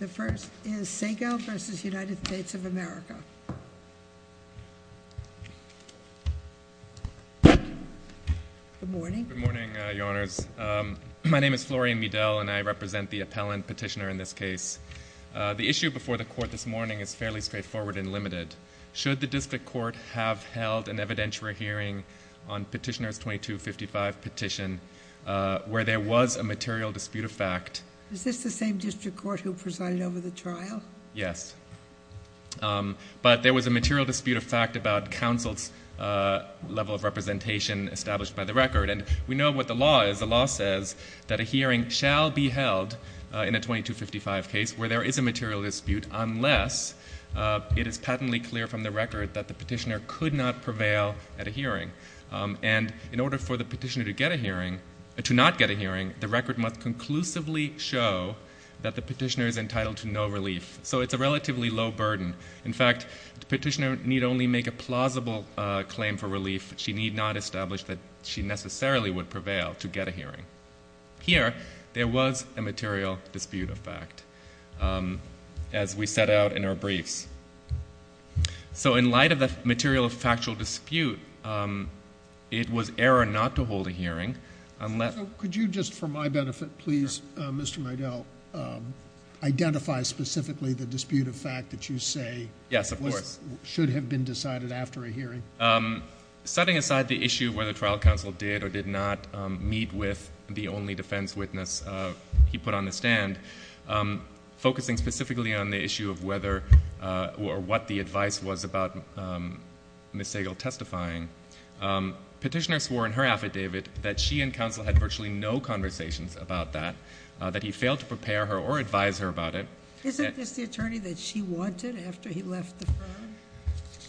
The first is Sehgal v. United States of America. Good morning. Good morning, Your Honors. My name is Florian Miedel and I represent the appellant petitioner in this case. The issue before the court this morning is fairly straightforward and limited. Should the district court have held an evidentiary hearing on petitioner's 2255 petition where there was a material dispute of fact? Is this the same district court who presided over the trial? Yes, but there was a material dispute of fact about counsel's level of representation established by the record and we know what the law is. The law says that a hearing shall be held in a 2255 case where there is a material dispute unless it is patently clear from the record that the petitioner could not prevail at a hearing. And in order for the petitioner to get a hearing, to not get a hearing, the record must conclusively show that the petitioner is entitled to no relief. So it's a relatively low burden. In fact, the petitioner need only make a plausible claim for relief. She need not establish that she necessarily would prevail to get a hearing. Here, there was a material dispute of fact as we set out in our briefs. So in light of the material factual dispute, it was error not to hold a hearing. Could you just, for my benefit, please, Mr. Mydell, identify specifically the dispute of fact that you say should have been decided after a hearing? Setting aside the issue whether trial counsel did or did not meet with the only defense witness he put on the stand, focusing specifically on the issue of whether or what the advice was about Ms. Sagal testifying, petitioner swore in her affidavit that she and counsel had virtually no conversations about that, that he failed to prepare her or advise her about it. Isn't this the attorney that she wanted after he left the firm?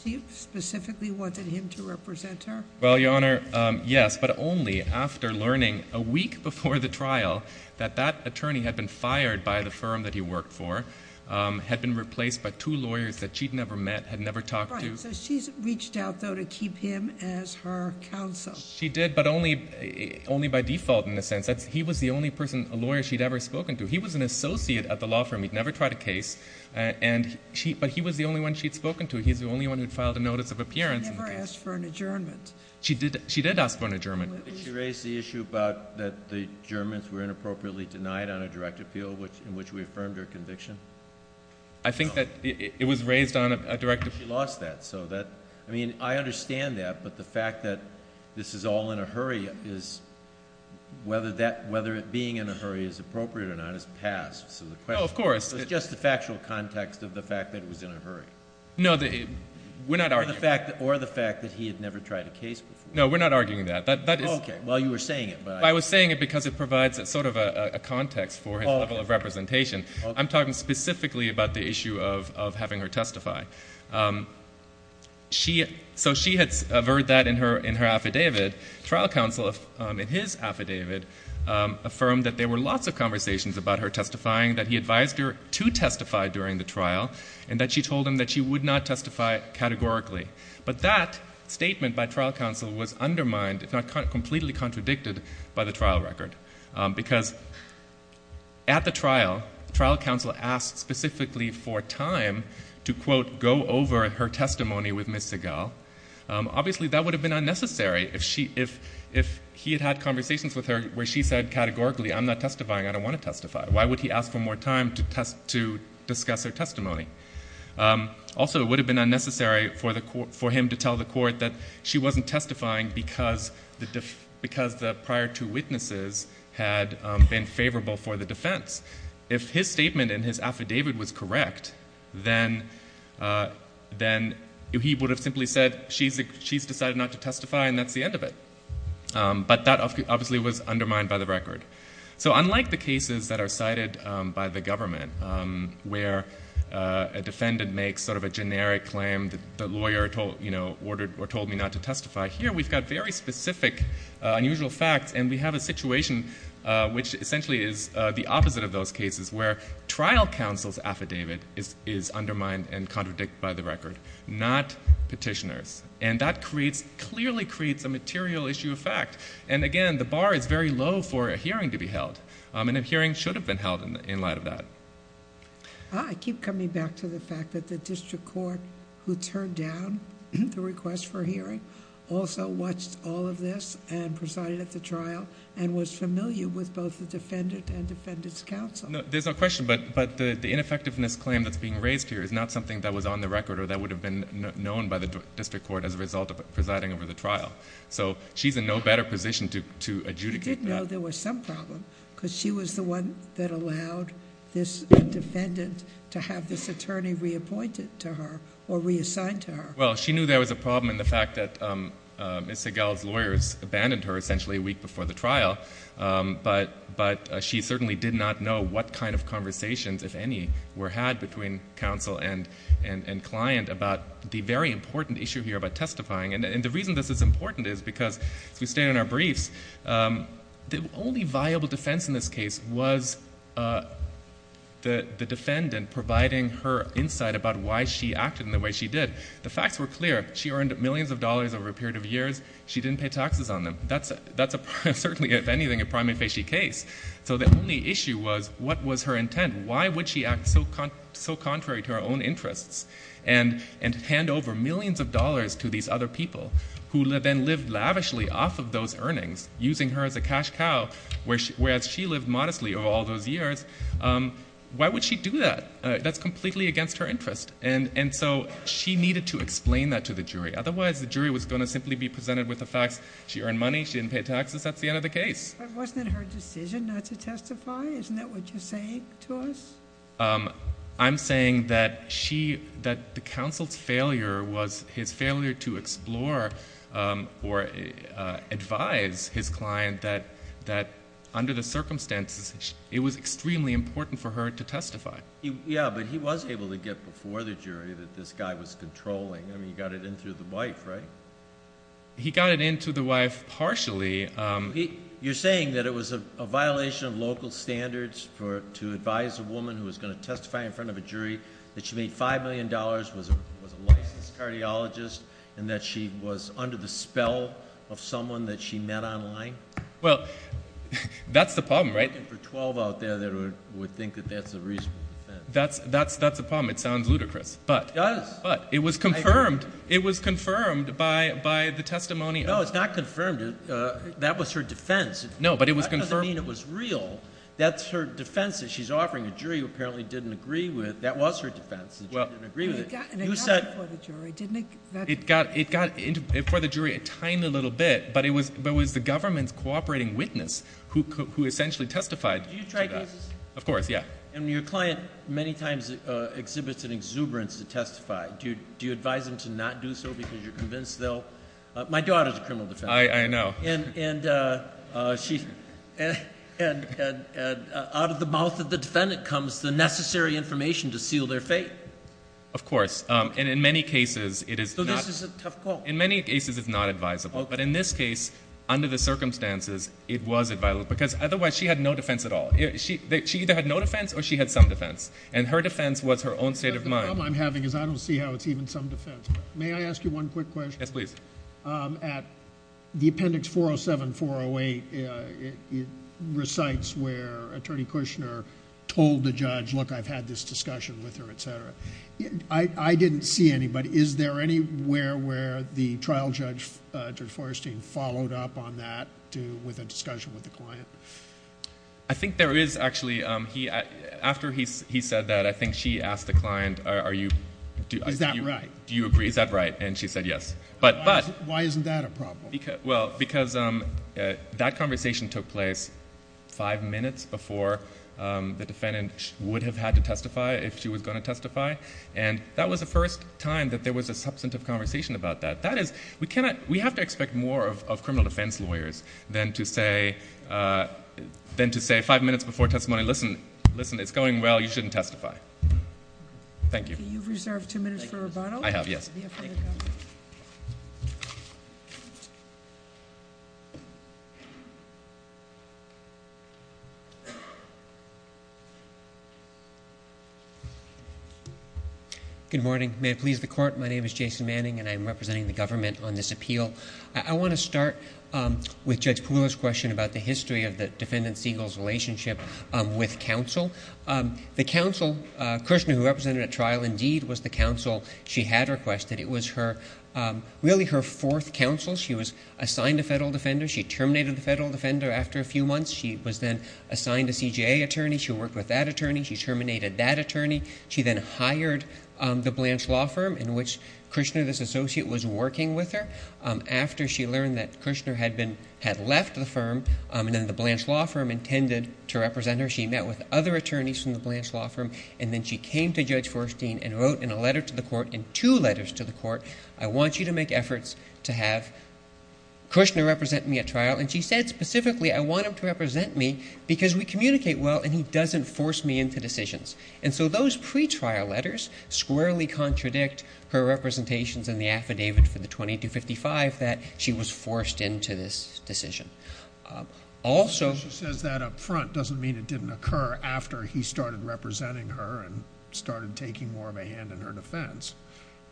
She specifically wanted him to represent her? Well, Your Honor, yes, but only after learning a week before the trial that that attorney had been fired by the firm that he worked for, had been replaced by two lawyers that she'd never met, had never talked to. So she's reached out also to keep him as her counsel? She did, but only by default in a sense. He was the only person, a lawyer, she'd ever spoken to. He was an associate at the law firm. He'd never tried a case, but he was the only one she'd spoken to. He's the only one who'd filed a notice of appearance. She never asked for an adjournment? She did ask for an adjournment. Did she raise the issue about that the Germans were inappropriately denied on a direct appeal in which we affirmed her conviction? I think that it was raised on a direct appeal. She lost that, so that, I mean, I understand that, but the fact that this is all in a hurry is, whether that, whether it being in a hurry is appropriate or not, is past. So the question is just the factual context of the fact that it was in a hurry. No, we're not arguing that. Or the fact that he had never tried a case before. No, we're not arguing that. Okay, well, you were saying it. I was saying it because it provides a sort of a context for his representation. I'm talking specifically about the issue of having her testify. So she had averred that in her affidavit. Trial counsel, in his affidavit, affirmed that there were lots of conversations about her testifying, that he advised her to testify during the trial, and that she told him that she would not testify categorically. But that statement by trial counsel was undermined, if not completely contradicted, by the trial record. Because at the trial, trial counsel asked specifically for time to, quote, go over her testimony with Ms. Segal. Obviously, that would have been unnecessary if she, if he had had conversations with her where she said categorically, I'm not testifying, I don't want to testify. Why would he ask for more time to discuss her testimony? Also, it would have been unnecessary for him to tell the court that she wasn't testifying because the prior two witnesses had been favorable for the defense. If his statement in his affidavit was correct, then he would have simply said, she's decided not to testify, and that's the end of it. But that obviously was undermined by the record. So unlike the cases that are cited by the government, where a defendant makes sort of a generic claim, the lawyer told, you know, ordered or told me not to testify, here we've got very specific unusual facts, and we have a situation which essentially is the opposite of those cases, where trial counsel's affidavit is undermined and contradicted by the record, not petitioner's. And that creates, clearly creates a material issue of fact. And again, the bar is very low for a hearing to be held, and a hearing should have been held in light of that. Ah, I keep coming back to the fact that the district court, who turned down the request for a hearing, also watched all of this and presided at the trial, and was familiar with both the defendant and defendant's counsel. No, there's no question, but the ineffectiveness claim that's being raised here is not something that was on the record or that would have been known by the district court as a result of presiding over the trial. So she's in no better position to adjudicate that. I know there was some problem, because she was the one that allowed this defendant to have this attorney reappointed to her, or reassigned to her. Well, she knew there was a problem in the fact that Ms. Segal's lawyers abandoned her essentially a week before the trial, but she certainly did not know what kind of conversations, if any, were had between counsel and client about the very important issue here about The only viable defense in this case was the defendant providing her insight about why she acted in the way she did. The facts were clear. She earned millions of dollars over a period of years. She didn't pay taxes on them. That's a certainly, if anything, a prima facie case. So the only issue was, what was her intent? Why would she act so contrary to her own interests and hand over millions of dollars to these other people, who then lived lavishly off of those earnings, using her as a cash cow, whereas she lived modestly over all those years? Why would she do that? That's completely against her interest. And so she needed to explain that to the jury. Otherwise, the jury was going to simply be presented with the facts. She earned money. She didn't pay taxes. That's the end of the case. But wasn't it her decision not to testify? Isn't that what you're saying to us? I'm saying that the counsel's failure was his failure to explore or advise his client that, under the circumstances, it was extremely important for her to testify. Yeah, but he was able to get before the jury that this guy was controlling. I mean, he got it in through the wife, right? He got it in through the wife partially. You're saying that it was a violation of local standards to advise a woman who was going to testify in front of a jury, that she made $5 million, was a licensed cardiologist, and that she was under the spell of someone that she met online? Well, that's the problem, right? I'm looking for 12 out there that would think that that's a reasonable defense. That's a problem. It sounds ludicrous, but it was confirmed. It was confirmed by the testimony of— No, it's not confirmed. That was her defense. No, but it was confirmed— That doesn't mean it was real. That's her defense that she's offering a jury who apparently didn't agree with—that was her defense, that she didn't agree with it. It got before the jury, didn't it? It got before the jury a tiny little bit, but it was the government's cooperating witness who essentially testified to that. Did you try cases? Of course, yeah. And your client many times exhibits an exuberance to testify. Do you advise them to not do so because you're convinced they'll—my daughter's a criminal defendant. I know. And out of the mouth of the defendant comes the necessary information to seal their fate. Of course. And in many cases, it is not— So this is a tough call. In many cases, it's not advisable. But in this case, under the circumstances, it was advisable because otherwise she had no defense at all. She either had no defense or she had some defense. And her defense was her own state of mind. The problem I'm having is I don't see how it's even some defense. May I ask you one quick question? Yes, please. At the Appendix 407-408, it recites where Attorney Kushner told the judge, look, I've had this discussion with her, et cetera. I didn't see any, but is there anywhere where the trial judge, Judge Forestine, followed up on that with a discussion with the client? I think there is, actually. After he said that, I think she asked the client, are you— Is that right? Do you agree? Is that right? And she said yes. But— Why isn't that a problem? Because that conversation took place five minutes before the defendant would have had to testify if she was going to testify. And that was the first time that there was a substantive conversation about that. That is, we have to expect more of criminal defense lawyers than to say five minutes before testimony, listen, it's going well, you shouldn't testify. Thank you. You've reserved two minutes for rebuttal? I have, yes. Good morning. May it please the Court, my name is Jason Manning and I'm representing the government on this appeal. I want to start with Judge Puglia's question about the history of the defendant Siegel's relationship with counsel. The counsel, Krishna, who represented at trial, indeed, was the counsel she had requested. It was her, really her fourth counsel. She was assigned a federal defender. She terminated the federal defender after a few months. She was then assigned a CJA attorney. She worked with that attorney. She terminated that attorney. She then hired the Blanche Law Firm in which Krishna, this associate, was working with her. After she learned that Krishna had been, had left the firm and then the Blanche Law Firm intended to represent her, she met with other attorneys from the Blanche Law Firm and then she came to Judge Forstein and wrote in a letter to the court, in two letters to the court, I want you to make efforts to have Krishna represent me at trial. And she said specifically, I want him to represent me because we communicate well and he doesn't force me into decisions. And so those pre-trial letters squarely contradict her representations in the affidavit for the 2255 that she was forced into this decision. Also... She says that up front doesn't mean it didn't occur after he started representing her and started taking more of a hand in her defense.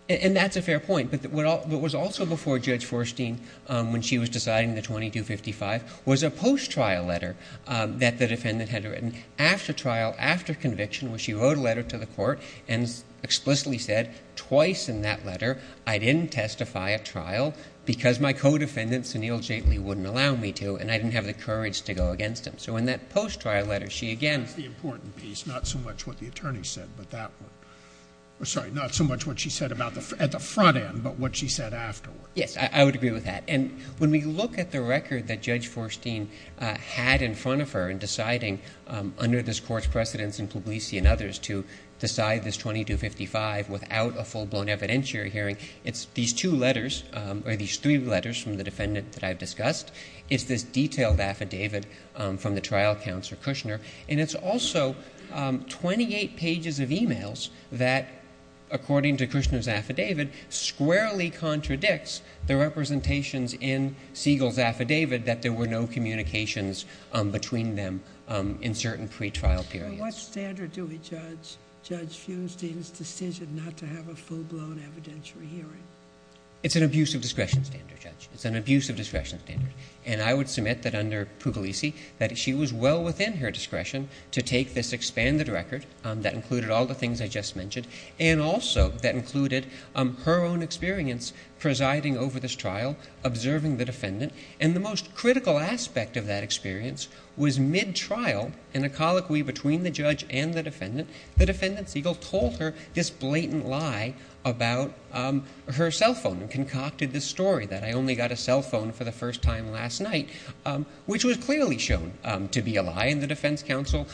And that's a fair point. But what was also before Judge Forstein when she was deciding the 2255 was a post-trial letter that the defendant had written after trial, after conviction, where she wrote a letter to the court and explicitly said twice in that letter I didn't testify at trial because my co-defendant, Sunil Jaitley, wouldn't allow me to and I didn't have the courage to go against him. So in that post-trial letter she again... That's the important piece, not so much what the attorney said, but that one. Sorry, not so much what she said at the front end, but what she said afterward. Yes, I would agree with that. And when we look at the record that Judge Forstein had in front of her in deciding under this court's precedence in Publisi and others to decide this 2255 without a full-blown evidentiary hearing, it's these two letters, or these three letters from the defendant that I've discussed. It's this detailed affidavit from the trial counselor, Kushner. And it's also 28 pages of e-mails that, according to Kushner's affidavit, squarely contradicts the representations in Siegel's affidavit that there were no communications between them in certain pretrial periods. So what standard do we judge Judge Funstein's decision not to have a full-blown evidentiary hearing? It's an abuse of discretion standard, Judge. It's an abuse of discretion standard. And I would submit that under Publisi she was well within her discretion to take this expanded record that included all the things I just mentioned, and also that included her own experience presiding over this trial, observing the defendant. And the most critical aspect of that experience was mid-trial, in a colloquy between the judge and the defendant, the defendant, Siegel, told her this blatant lie about her cell phone and concocted this story that I only got a cell phone for the first time last night, which was clearly shown to be a lie, and the defense counsel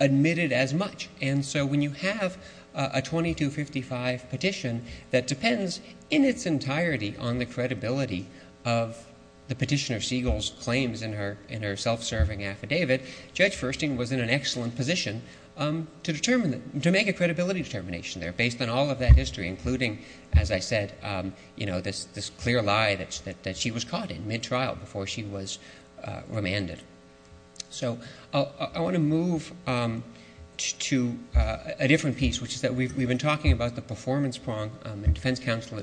admitted as much. And so when you have a 2255 petition that depends in its entirety on the credibility of the petitioner Siegel's claims in her self-serving affidavit, Judge Funstein was in an excellent position to make a credibility determination there based on all of that history, including, as I said, this clear lie that she was caught in mid-trial before she was remanded. So I want to move to a different piece, which is that we've been talking about the performance prong, and defense counsel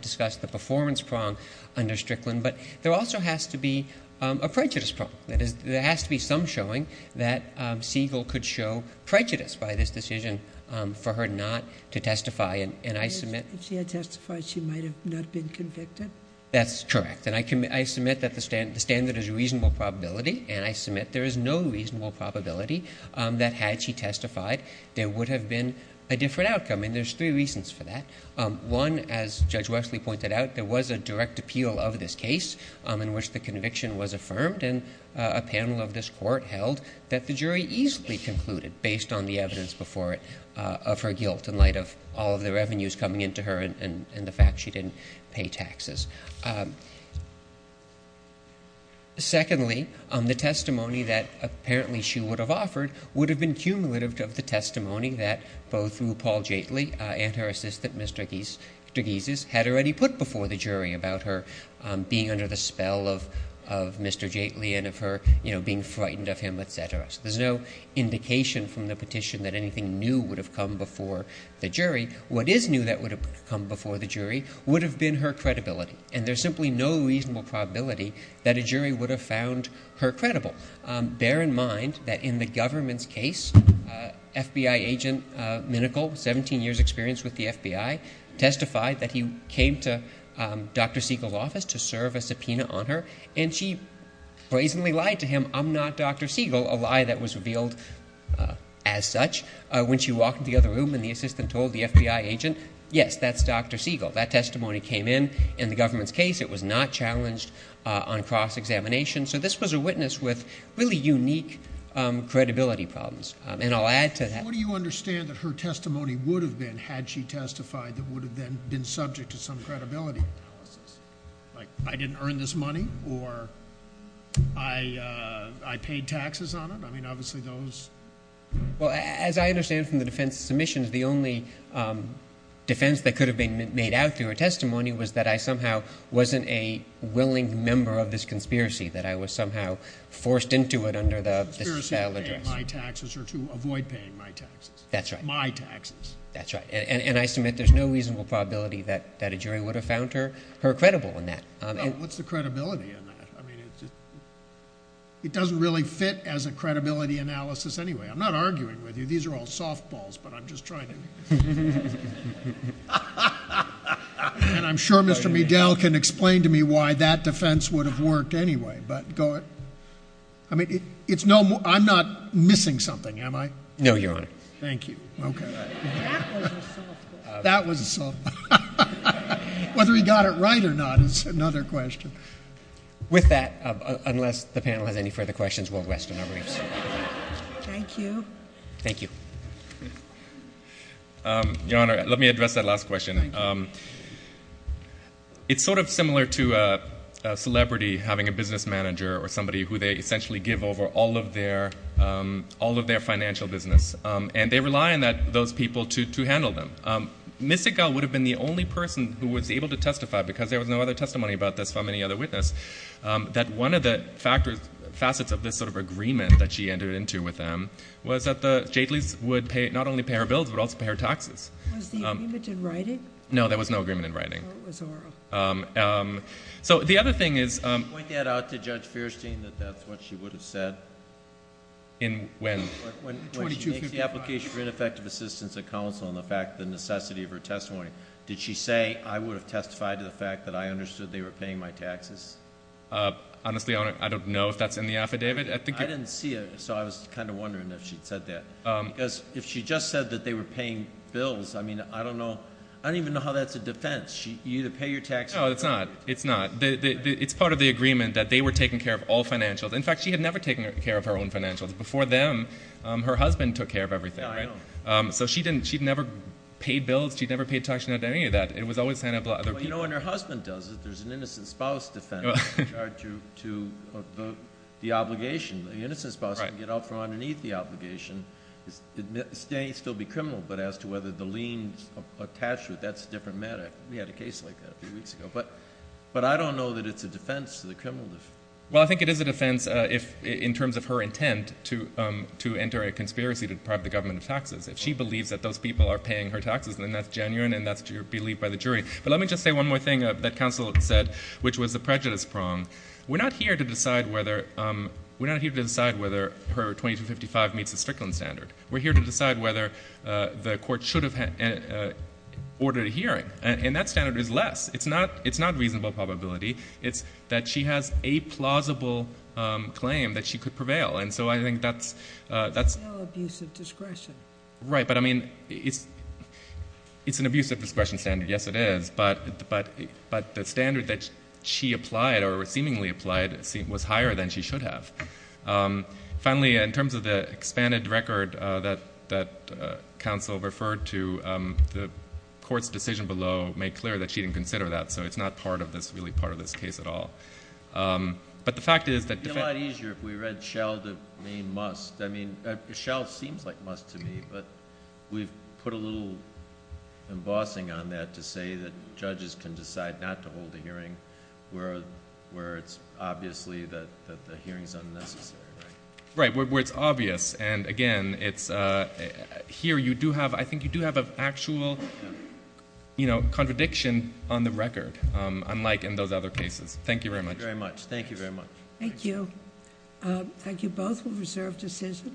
discussed the performance prong under Strickland, but there also has to be a prejudice prong. That is, there has to be some showing that Siegel could show prejudice by this decision for her not to testify, and I submit... there is no reasonable probability that had she testified there would have been a different outcome, and there's three reasons for that. One, as Judge Wesley pointed out, there was a direct appeal of this case in which the conviction was affirmed, and a panel of this court held that the jury easily concluded, based on the evidence before it, of her guilt in light of all of the revenues coming into her and the fact she didn't pay taxes. Secondly, the testimony that apparently she would have offered would have been cumulative of the testimony that both RuPaul Jaitley and her assistant, Mr. Gizes, had already put before the jury about her being under the spell of Mr. Jaitley and of her being frightened of him, et cetera. So there's no indication from the petition that anything new would have come before the jury. What is new that would have come before the jury would have been her credibility, and there's simply no reasonable probability that a jury would have found her credible. Bear in mind that in the government's case, FBI agent Minickel, 17 years' experience with the FBI, testified that he came to Dr. Siegel's office to serve a subpoena on her, and she brazenly lied to him, I'm not Dr. Siegel, a lie that was revealed as such. When she walked into the other room and the assistant told the FBI agent, yes, that's Dr. Siegel. That testimony came in in the government's case. It was not challenged on cross-examination. So this was a witness with really unique credibility problems, and I'll add to that. What do you understand that her testimony would have been had she testified that would have then been subject to some credibility analysis, like I didn't earn this money or I paid taxes on it? Well, as I understand from the defense submissions, the only defense that could have been made out through her testimony was that I somehow wasn't a willing member of this conspiracy, that I was somehow forced into it under this address. Conspiracy to pay my taxes or to avoid paying my taxes. That's right, and I submit there's no reasonable probability that a jury would have found her credible in that. What's the credibility in that? I mean, it doesn't really fit as a credibility analysis anyway. I'm not arguing with you. These are all softballs, but I'm just trying to. And I'm sure Mr. Medell can explain to me why that defense would have worked anyway. I mean, I'm not missing something, am I? No, Your Honor. That was a softball. Whether he got it right or not is another question. With that, unless the panel has any further questions, we'll rest on our reefs. Thank you. Your Honor, let me address that last question. It's sort of similar to a celebrity having a business manager or somebody who they essentially give over all of their financial business, and they rely on those people to handle them. Ms. Sigal would have been the only person who was able to testify, because there was no other testimony about this from any other witness, that one of the facets of this sort of agreement that she entered into with them was that the Jatelys would not only pay her bills, but also pay her taxes. Was the agreement in writing? No, there was no agreement in writing. When she makes the application for ineffective assistance at counsel on the necessity of her testimony, did she say, I would have testified to the fact that I understood they were paying my taxes? Honestly, I don't know if that's in the affidavit. I didn't see it, so I was kind of wondering if she'd said that. Because if she just said that they were paying bills, I don't even know how that's a defense. No, it's not. It's part of the agreement that they were taking care of all financials. In fact, she had never taken care of her own financials. Before them, her husband took care of everything. So she'd never paid bills, she'd never paid taxes, she'd never done any of that. You know, when her husband does it, there's an innocent spouse defense in regard to the obligation. The innocent spouse can get up from underneath the obligation, still be criminal, but as to whether the liens attached to it, that's a different matter. We had a case like that a few weeks ago. But I don't know that it's a defense to the criminal defense. Well, I think it is a defense in terms of her intent to enter a conspiracy to deprive the government of taxes. If she believes that those people are paying her taxes, then that's genuine and that's believed by the jury. But let me just say one more thing that counsel said, which was the prejudice prong. We're not here to decide whether her 2255 meets the Strickland standard. We're here to decide whether the court should have ordered a hearing. And that standard is less. It's not reasonable probability. It's that she has a plausible claim that she could prevail. It's still abuse of discretion. Right, but I mean, it's an abuse of discretion standard. Yes, it is. But the standard that she applied or seemingly applied was higher than she should have. Finally, in terms of the expanded record that counsel referred to, the court's decision below made clear that she didn't consider that. So it's not really part of this case at all. It would be a lot easier if we read Shell to mean must. I mean, Shell seems like must to me, but we've put a little embossing on that to say that judges can decide not to hold a hearing where it's obviously that the hearing is unnecessary, right? Right, where it's obvious. And again, it's here you do have, I think you do have an actual contradiction on the record, unlike in those other cases. Thank you very much. Thank you very much. Thank you very much. Thank you. Thank you both for reserved decision.